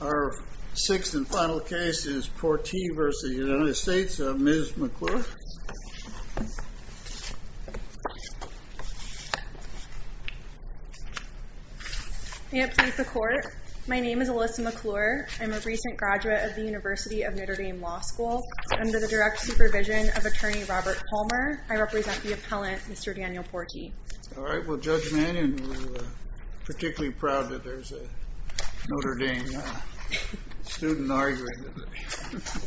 Our sixth and final case is Portee v. United States. Ms. McClure. May it please the Court. My name is Alyssa McClure. I'm a recent graduate of the University of Notre Dame Law School. Under the direct supervision of Attorney Robert Palmer, I represent the appellant, Mr. Daniel Portee. All right. Well, Judge Mannion, we're particularly proud that there's a Notre Dame student arguing today.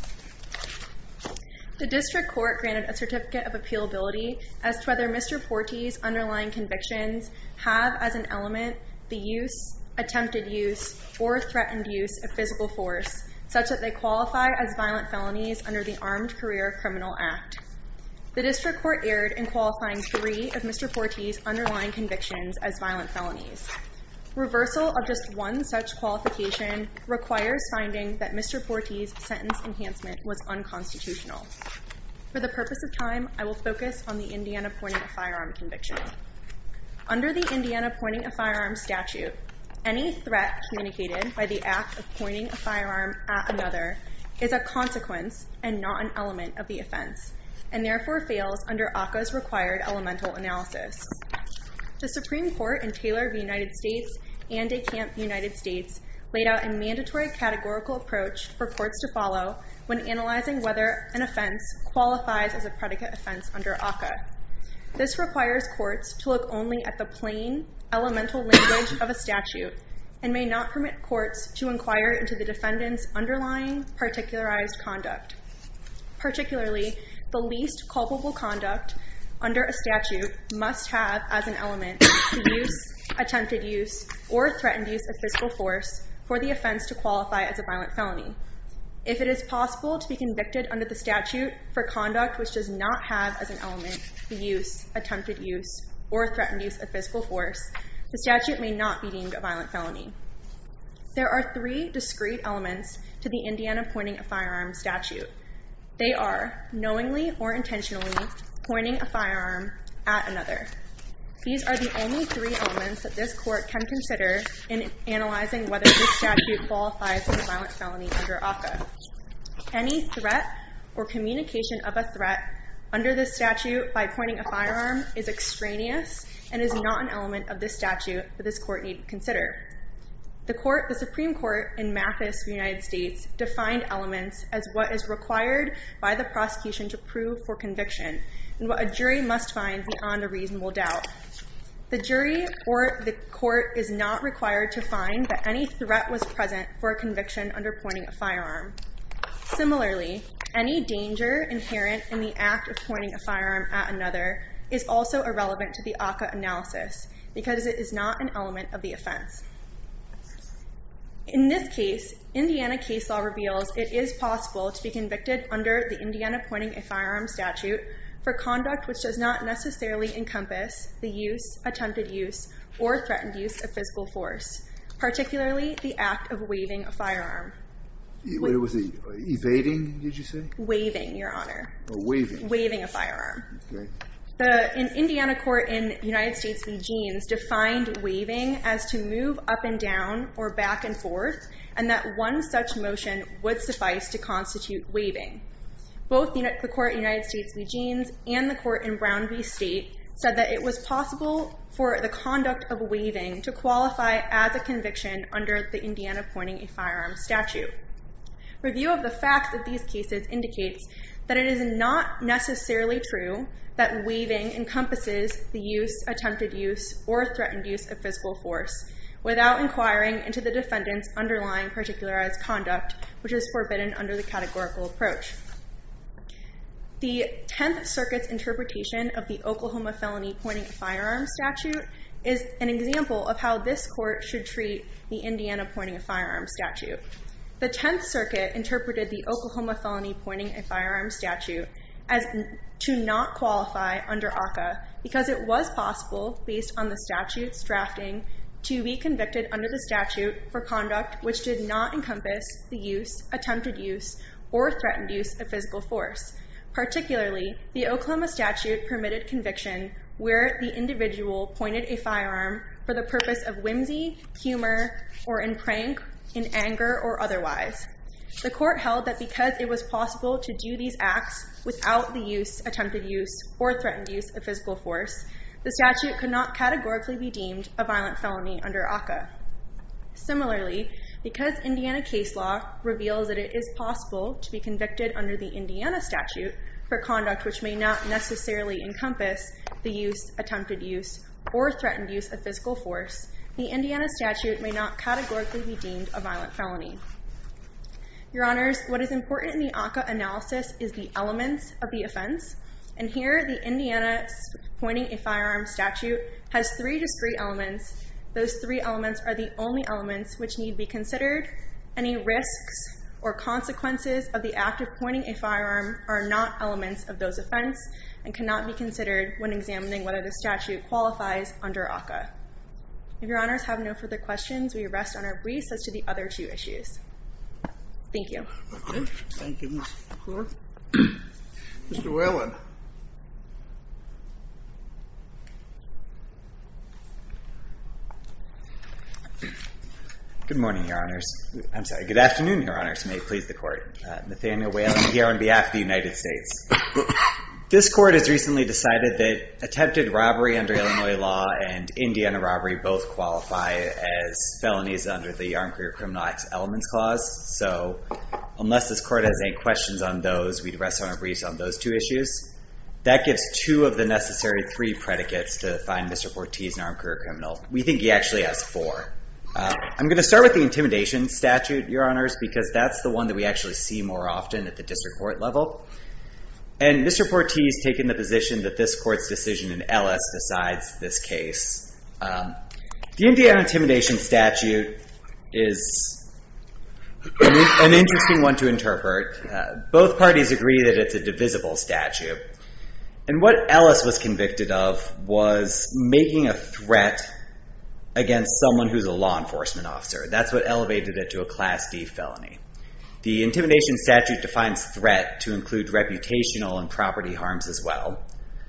The district court granted a certificate of appealability as to whether Mr. Portee's underlying convictions have as an element the use, attempted use, or threatened use of physical force such that they qualify as violent felonies under the Armed Career Criminal Act. The district court erred in qualifying three of Mr. Portee's underlying convictions as violent felonies. Reversal of just one such qualification requires finding that Mr. Portee's sentence enhancement was unconstitutional. For the purpose of time, I will focus on the Indiana pointing a firearm conviction. Under the Indiana pointing a firearm statute, any threat communicated by the act of pointing a firearm at another is a consequence and not an element of the offense, and therefore fails under ACCA's required elemental analysis. The Supreme Court in Taylor v. United States and DeKalb v. United States laid out a mandatory categorical approach for courts to follow when analyzing whether an offense qualifies as a predicate offense under ACCA. This requires courts to look only at the plain elemental language of a statute and may not permit courts to inquire into the defendant's underlying particularized conduct, particularly the least culpable conduct under a statute must have as an element the use, attempted use, or threatened use of physical force for the offense to qualify as a violent felony. If it is possible to be convicted under the statute for conduct which does not have as an element the use, attempted use, or threatened use of physical force, the statute may not be deemed a violent felony. There are three discrete elements to the Indiana pointing a firearm statute. They are knowingly or intentionally pointing a firearm at another. These are the only three elements that this court can consider in analyzing whether this statute qualifies as a violent felony under ACCA. Any threat or communication of a threat under this statute by pointing a firearm is extraneous and is not an element of this statute that this court need consider. The Supreme Court in Mathis, United States defined elements as what is required by the prosecution to prove for conviction and what a jury must find beyond a reasonable doubt. The jury or the court is not required to find that any threat was present for a conviction under pointing a firearm. Similarly, any danger inherent in the act of pointing a firearm at another is also irrelevant to the ACCA analysis because it is not an element of the offense. In this case, Indiana case law reveals it is possible to be convicted under the Indiana pointing a firearm statute for conduct which does not necessarily encompass the use, attempted use, or threatened use of physical force, particularly the act of waving a firearm. The Indiana court in United States v. Jeans defined waving as to move up and down or back and forth and that one such motion would suffice to constitute waving. Both the court in United States v. Jeans and the court in Brown v. State said that it was possible for the conduct of waving to qualify as a conviction under the Indiana pointing a firearm statute. Review of the fact that these cases indicates that it is not necessarily true that waving encompasses the use, attempted use, or threatened use of physical force without inquiring into the defendant's underlying particularized conduct which is forbidden under the categorical approach. The Tenth Circuit's interpretation of the Oklahoma felony pointing a firearm statute is an example of how this court should treat the Indiana pointing a firearm statute. The Tenth Circuit interpreted the Oklahoma felony pointing a firearm statute as to not qualify under ACCA because it was possible, based on the statute's drafting, to be convicted under the statute for conduct which did not encompass the use, attempted use, or threatened use of physical force, particularly the Oklahoma statute permitted conviction where the individual pointed a firearm for the purpose of whimsy, humor, or in prank, in anger, or otherwise. The court held that because it was possible to do these acts without the use, attempted use, or threatened use of physical force, the statute could not categorically be deemed a violent felony under ACCA. Similarly, because Indiana case law reveals that it is possible to be convicted under the Indiana statute for conduct which may not necessarily encompass the use, attempted use, or threatened use of physical force, the Indiana statute may not categorically be deemed a violent felony. Your Honors, what is important in the ACCA analysis is the elements of the offense, and here the Indiana pointing a firearm statute has three discrete elements. Those three elements are the only elements which need to be considered. Any risks or consequences of the act of pointing a firearm are not elements of those offense and cannot be considered when examining whether the statute qualifies under ACCA. If your Honors have no further questions, we rest on our briefs as to the other two issues. Thank you. Thank you, Ms. McClure. Mr. Whalen. Good morning, Your Honors. I'm sorry, good afternoon, Your Honors, may it please the court. Nathaniel Whalen here on behalf of the United States. This court has recently decided that firearm law and Indiana robbery both qualify as felonies under the Armed Career Criminologics Elements Clause, so unless this court has any questions on those, we'd rest on our briefs on those two issues. That gives two of the necessary three predicates to find Mr. Portease an armed career criminal. We think he actually has four. I'm going to start with the intimidation statute, Your Honors, because that's the one that we actually see more often at the district court level, and Mr. Portease has taken the position that this court's decision in Ellis decides this case. The Indiana intimidation statute is an interesting one to interpret. Both parties agree that it's a divisible statute, and what Ellis was convicted of was making a threat against someone who's a law enforcement officer. That's what elevated it to a Class D felony. The intimidation statute defines threat to include reputational and property harms as well,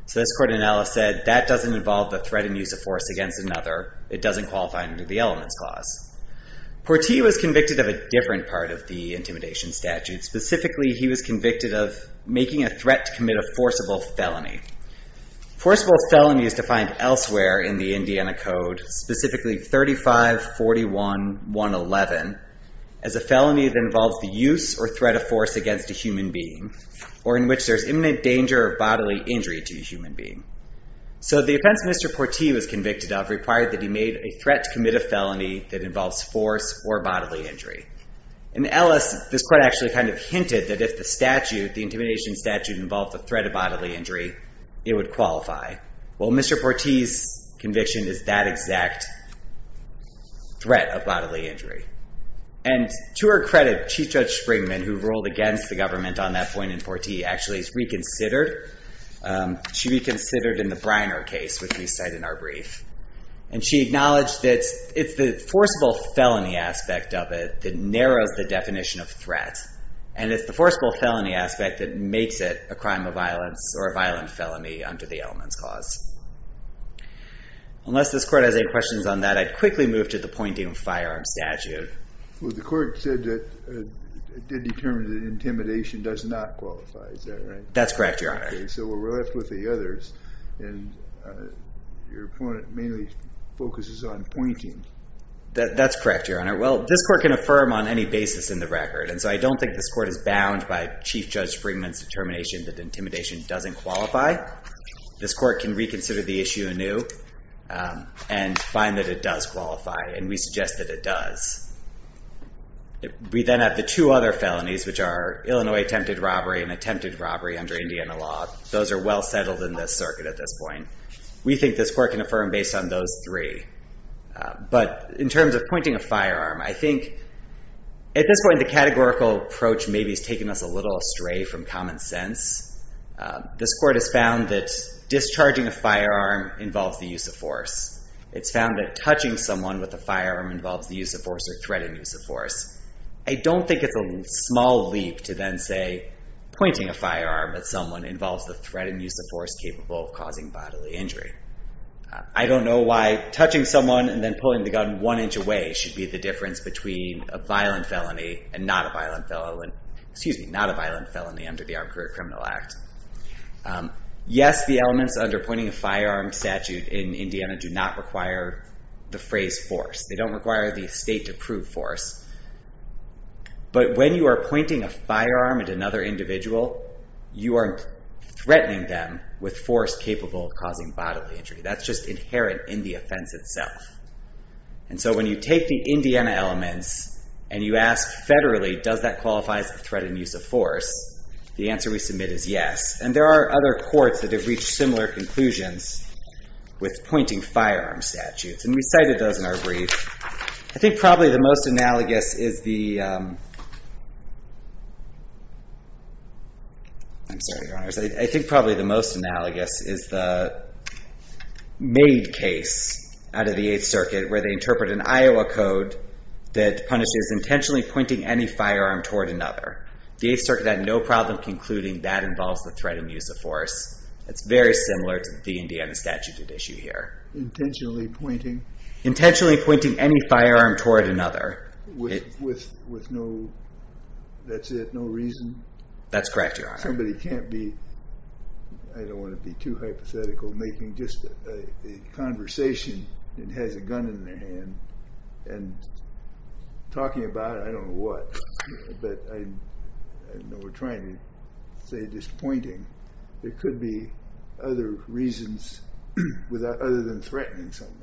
so this court in Ellis said that doesn't involve the threat and use of force against another. It doesn't qualify under the Elements Clause. Portease was convicted of a different part of the intimidation statute. Specifically, he was convicted of making a threat to commit a forcible felony. Forcible felony is defined elsewhere in the Indiana Code, specifically 3541.111, as a felony that involves the use or threat of force against a human being, or in which there's imminent danger of bodily injury to a human being. So the offense Mr. Portease was convicted of required that he made a threat to commit a felony that involves force or bodily injury. In Ellis, this court actually kind of hinted that if the statute, the intimidation statute, involved the threat of bodily injury, it would qualify. Well, Mr. Portease's conviction is that exact threat of bodily injury, and to her credit, Chief Judge Springman, who ruled against the government on that point in Portease, actually is reconsidered. She reconsidered in the Briner case, which we cite in our brief, and she acknowledged that it's the forcible felony aspect of it that narrows the definition of threat, and it's the forcible felony aspect that makes it a crime of violence or a violent felony under the Elements Clause. Unless this court has any questions on that, I'd quickly move to the pointing of firearms statute. Well, the court said that it did determine that intimidation does not qualify, is that right? That's correct, Your Honor. Okay, so we're left with the others, and your opponent mainly focuses on pointing. That's correct, Your Honor. Well, this court can affirm on any basis in the record, and so I don't think this court is bound by Chief Judge Springman's determination that intimidation doesn't qualify. This court can reconsider the issue anew and find that it does qualify, and we suggest that it does. We then have the two other felonies, which are Illinois attempted robbery and attempted robbery under Indiana law. Those are well settled in this circuit at this point. We think this court can affirm based on those three, but in terms of pointing a firearm, I think at this point, the categorical approach maybe has taken us a little astray from common sense. This court has found that discharging a firearm involves the use of force. It's found that touching someone with a firearm involves the use of force or threatened use of force. I don't think it's a small leap to then say pointing a firearm at someone involves the threat and use of force capable of causing bodily injury. I don't know why touching someone and then pulling the gun one inch away should be the difference between a violent felony and not a violent felony under the Armed Career Criminal Act. Yes, the elements under pointing a firearm statute in Indiana do not require the phrase force. They don't require the state to prove force, but when you are pointing a firearm at another individual, you are threatening them with force capable of causing bodily injury. That's just inherent in the offense itself. And so when you take the Indiana elements and you ask federally, does that qualify as a threat and use of force? The answer we submit is yes. And there are other courts that have reached similar conclusions with pointing firearm statutes, and we cited those in our brief. I think probably the most analogous is the Maid case out of the Eighth Circuit where they interpret an Iowa code that punishes intentionally pointing any firearm toward another. The Eighth Circuit had no problem concluding that involves the threat and use of force. It's very similar to the Indiana statute at issue here. Intentionally pointing? Intentionally pointing any firearm toward another. With no, that's it, no reason? That's correct, Your Honor. Somebody can't be, I don't want to be too hypothetical, making just a conversation and has a gun in their hand and talking about it, I don't know what, but I know we're trying to say just pointing. There could be other reasons other than threatening someone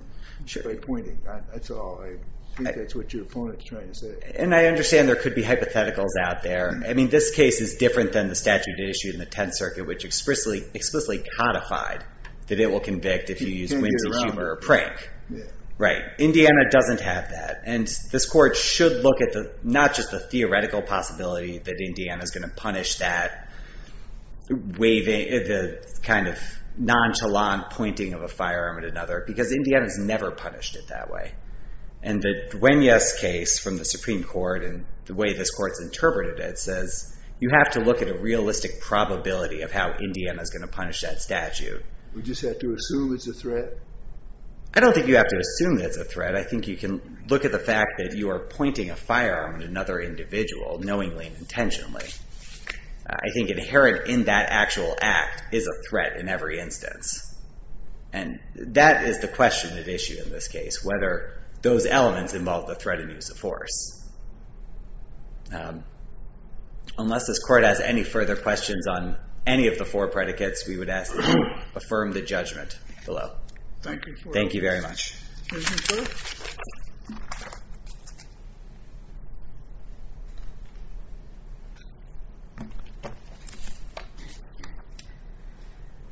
by pointing. That's all. I think that's what your opponent is trying to say. And I understand there could be hypotheticals out there. I mean, this case is different than the statute issued in the Tenth Circuit, which explicitly codified that it will convict if you use whimsy, humor, or prank. Right. Indiana doesn't have that. And this court should look at not just the theoretical possibility that Indiana is going to punish that waving, the kind of nonchalant pointing of a firearm at another, because Indiana has never punished it that way. And the Duenas case from the Supreme Court and the way this court's interpreted it says you have to look at a realistic probability of how Indiana is going to punish that statute. We just have to assume it's a threat? I don't think you have to assume that it's a threat. I think you can look at the fact that you are pointing a firearm at another individual knowingly and intentionally. I think inherent in that actual act is a threat in every instance. And that is the question at issue in this case, whether those elements involve the threat and use of force. Unless this court has any further questions on any of the four predicates, we would ask that you affirm the judgment below. Thank you. Thank you very much.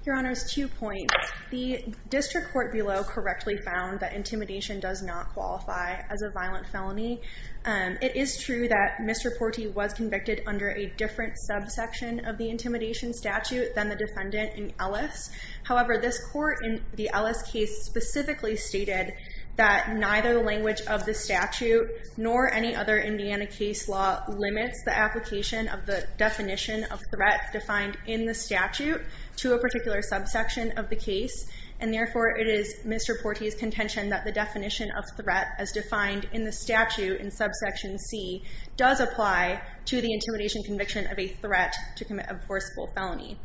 Your Honor's two points. The district court below correctly found that intimidation does not qualify as a violent felony. It is true that Mr. Porti was convicted under a different subsection of the intimidation statute than the defendant in Ellis. However, this court in the Ellis case specifically stated that neither the language of the statute nor any other Indiana case law limits the application of the definition of threat defined in the statute to a particular subsection of the case. And therefore, it is Mr. Porti's contention that the definition of threat as defined in the statute in subsection C does apply to the intimidation conviction of a threat to commit a forcible felony.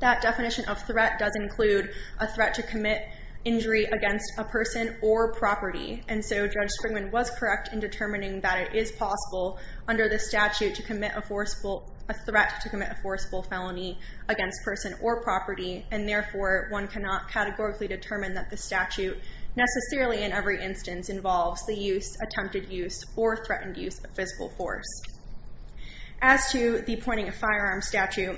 That definition of threat does include a threat to commit injury against a person or property. And so Judge Springman was correct in determining that it is possible under the statute to commit a forcible, a threat to commit a forcible felony against person or property. And therefore, one cannot categorically determine that the statute necessarily in every instance involves the use, attempted use, or threatened use of physical force. As to the pointing a firearm statute,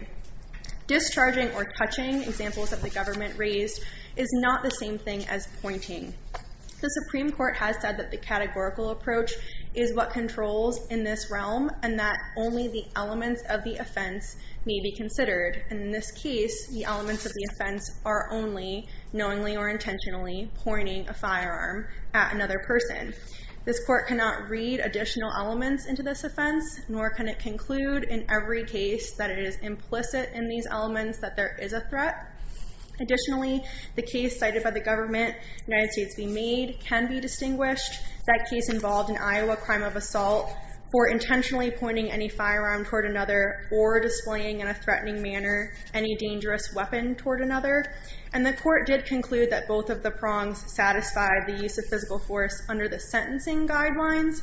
discharging or touching examples that the government raised is not the same thing as pointing. The Supreme Court has said that the categorical approach is what controls in this realm, and that only the elements of the offense may be considered. And in this case, the elements of the offense are only knowingly or intentionally pointing a firearm at another person. This court cannot read additional elements into this offense, nor can it conclude in every case that it is implicit in these elements that there is a threat. Additionally, the case cited by the government, United States v. Maid, can be distinguished. That case involved an Iowa crime of assault for intentionally pointing any firearm toward another or displaying in a threatening manner any dangerous weapon toward another. And the court did conclude that both of the prongs satisfied the use of physical force under the sentencing guidelines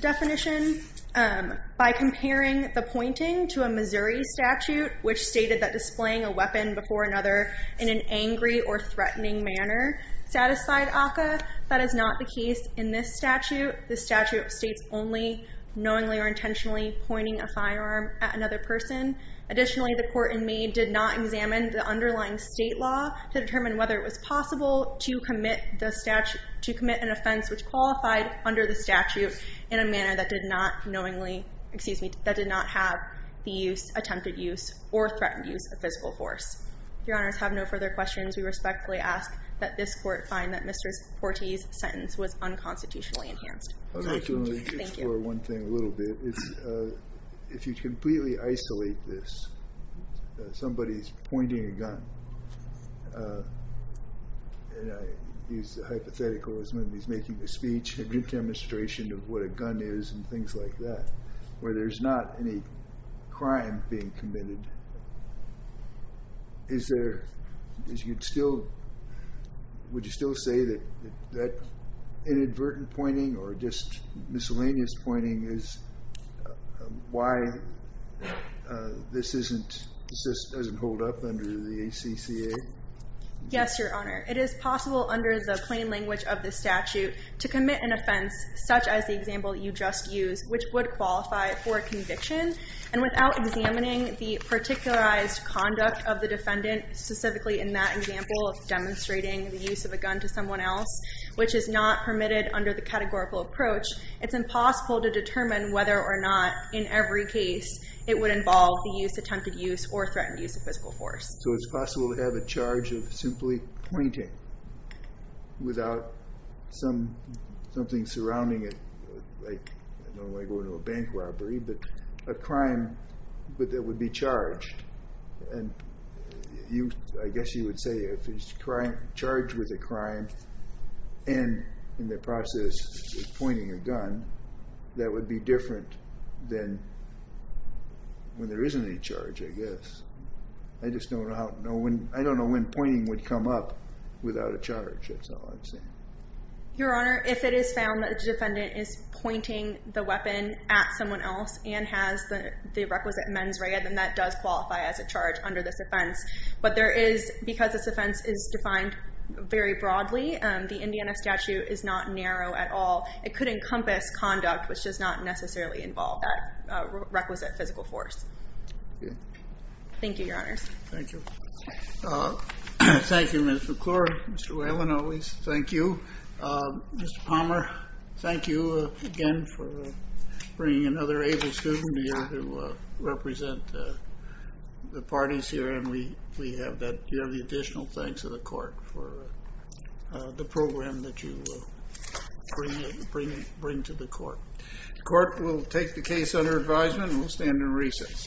definition by comparing the pointing to a Missouri statute, which stated that displaying a weapon before another in an angry or threatening manner satisfied ACCA. That is not the case in this statute. The statute states only knowingly or intentionally pointing a firearm at another person. Additionally, the court in Maid did not examine the underlying state law to determine whether it was possible to commit an offense which qualified under the statute in a manner that did not have the use, attempted use, or threatened use of physical force. If your honors have no further questions, we respectfully ask that this court find that Mr. Porte's sentence was unconstitutionally enhanced. I'd like to only explore one thing a little bit. If you completely isolate this, somebody's pointing a gun, and I use the hypothetical as when he's making a speech, a good demonstration of what a gun is and things like that, where there's not any crime being committed. Is there, would you still say that inadvertent pointing or just miscellaneous pointing is why this doesn't hold up under the ACCA? Yes, your honor. It is possible under the plain language of the statute to commit an offense, as the example you just used, which would qualify for conviction. Without examining the particularized conduct of the defendant, specifically in that example of demonstrating the use of a gun to someone else, which is not permitted under the categorical approach, it's impossible to determine whether or not, in every case, it would involve the use, attempted use, or threatened use of physical force. It's possible to have a charge of simply pointing without something surrounding it like, I don't want to go into a bank robbery, but a crime that would be charged. And I guess you would say if he's charged with a crime and in the process is pointing a gun, that would be different than when there isn't any charge, I guess. I just don't know when pointing would come up without a charge. That's all I'm saying. Your honor, if it is found that the defendant is pointing the weapon at someone else and has the requisite mens rea, then that does qualify as a charge under this offense. But there is, because this offense is defined very broadly, the Indiana statute is not narrow at all. It could encompass conduct which does not necessarily involve that requisite physical force. Thank you, your honors. Thank you. Thank you, Mr. McClure, Mr. Whalen, always. Thank you. Mr. Palmer, thank you again for bringing another able student here to represent the parties here. And we have the additional thanks of the court for the program that you bring to the court. The court will take the case under advisement and will stand in recess.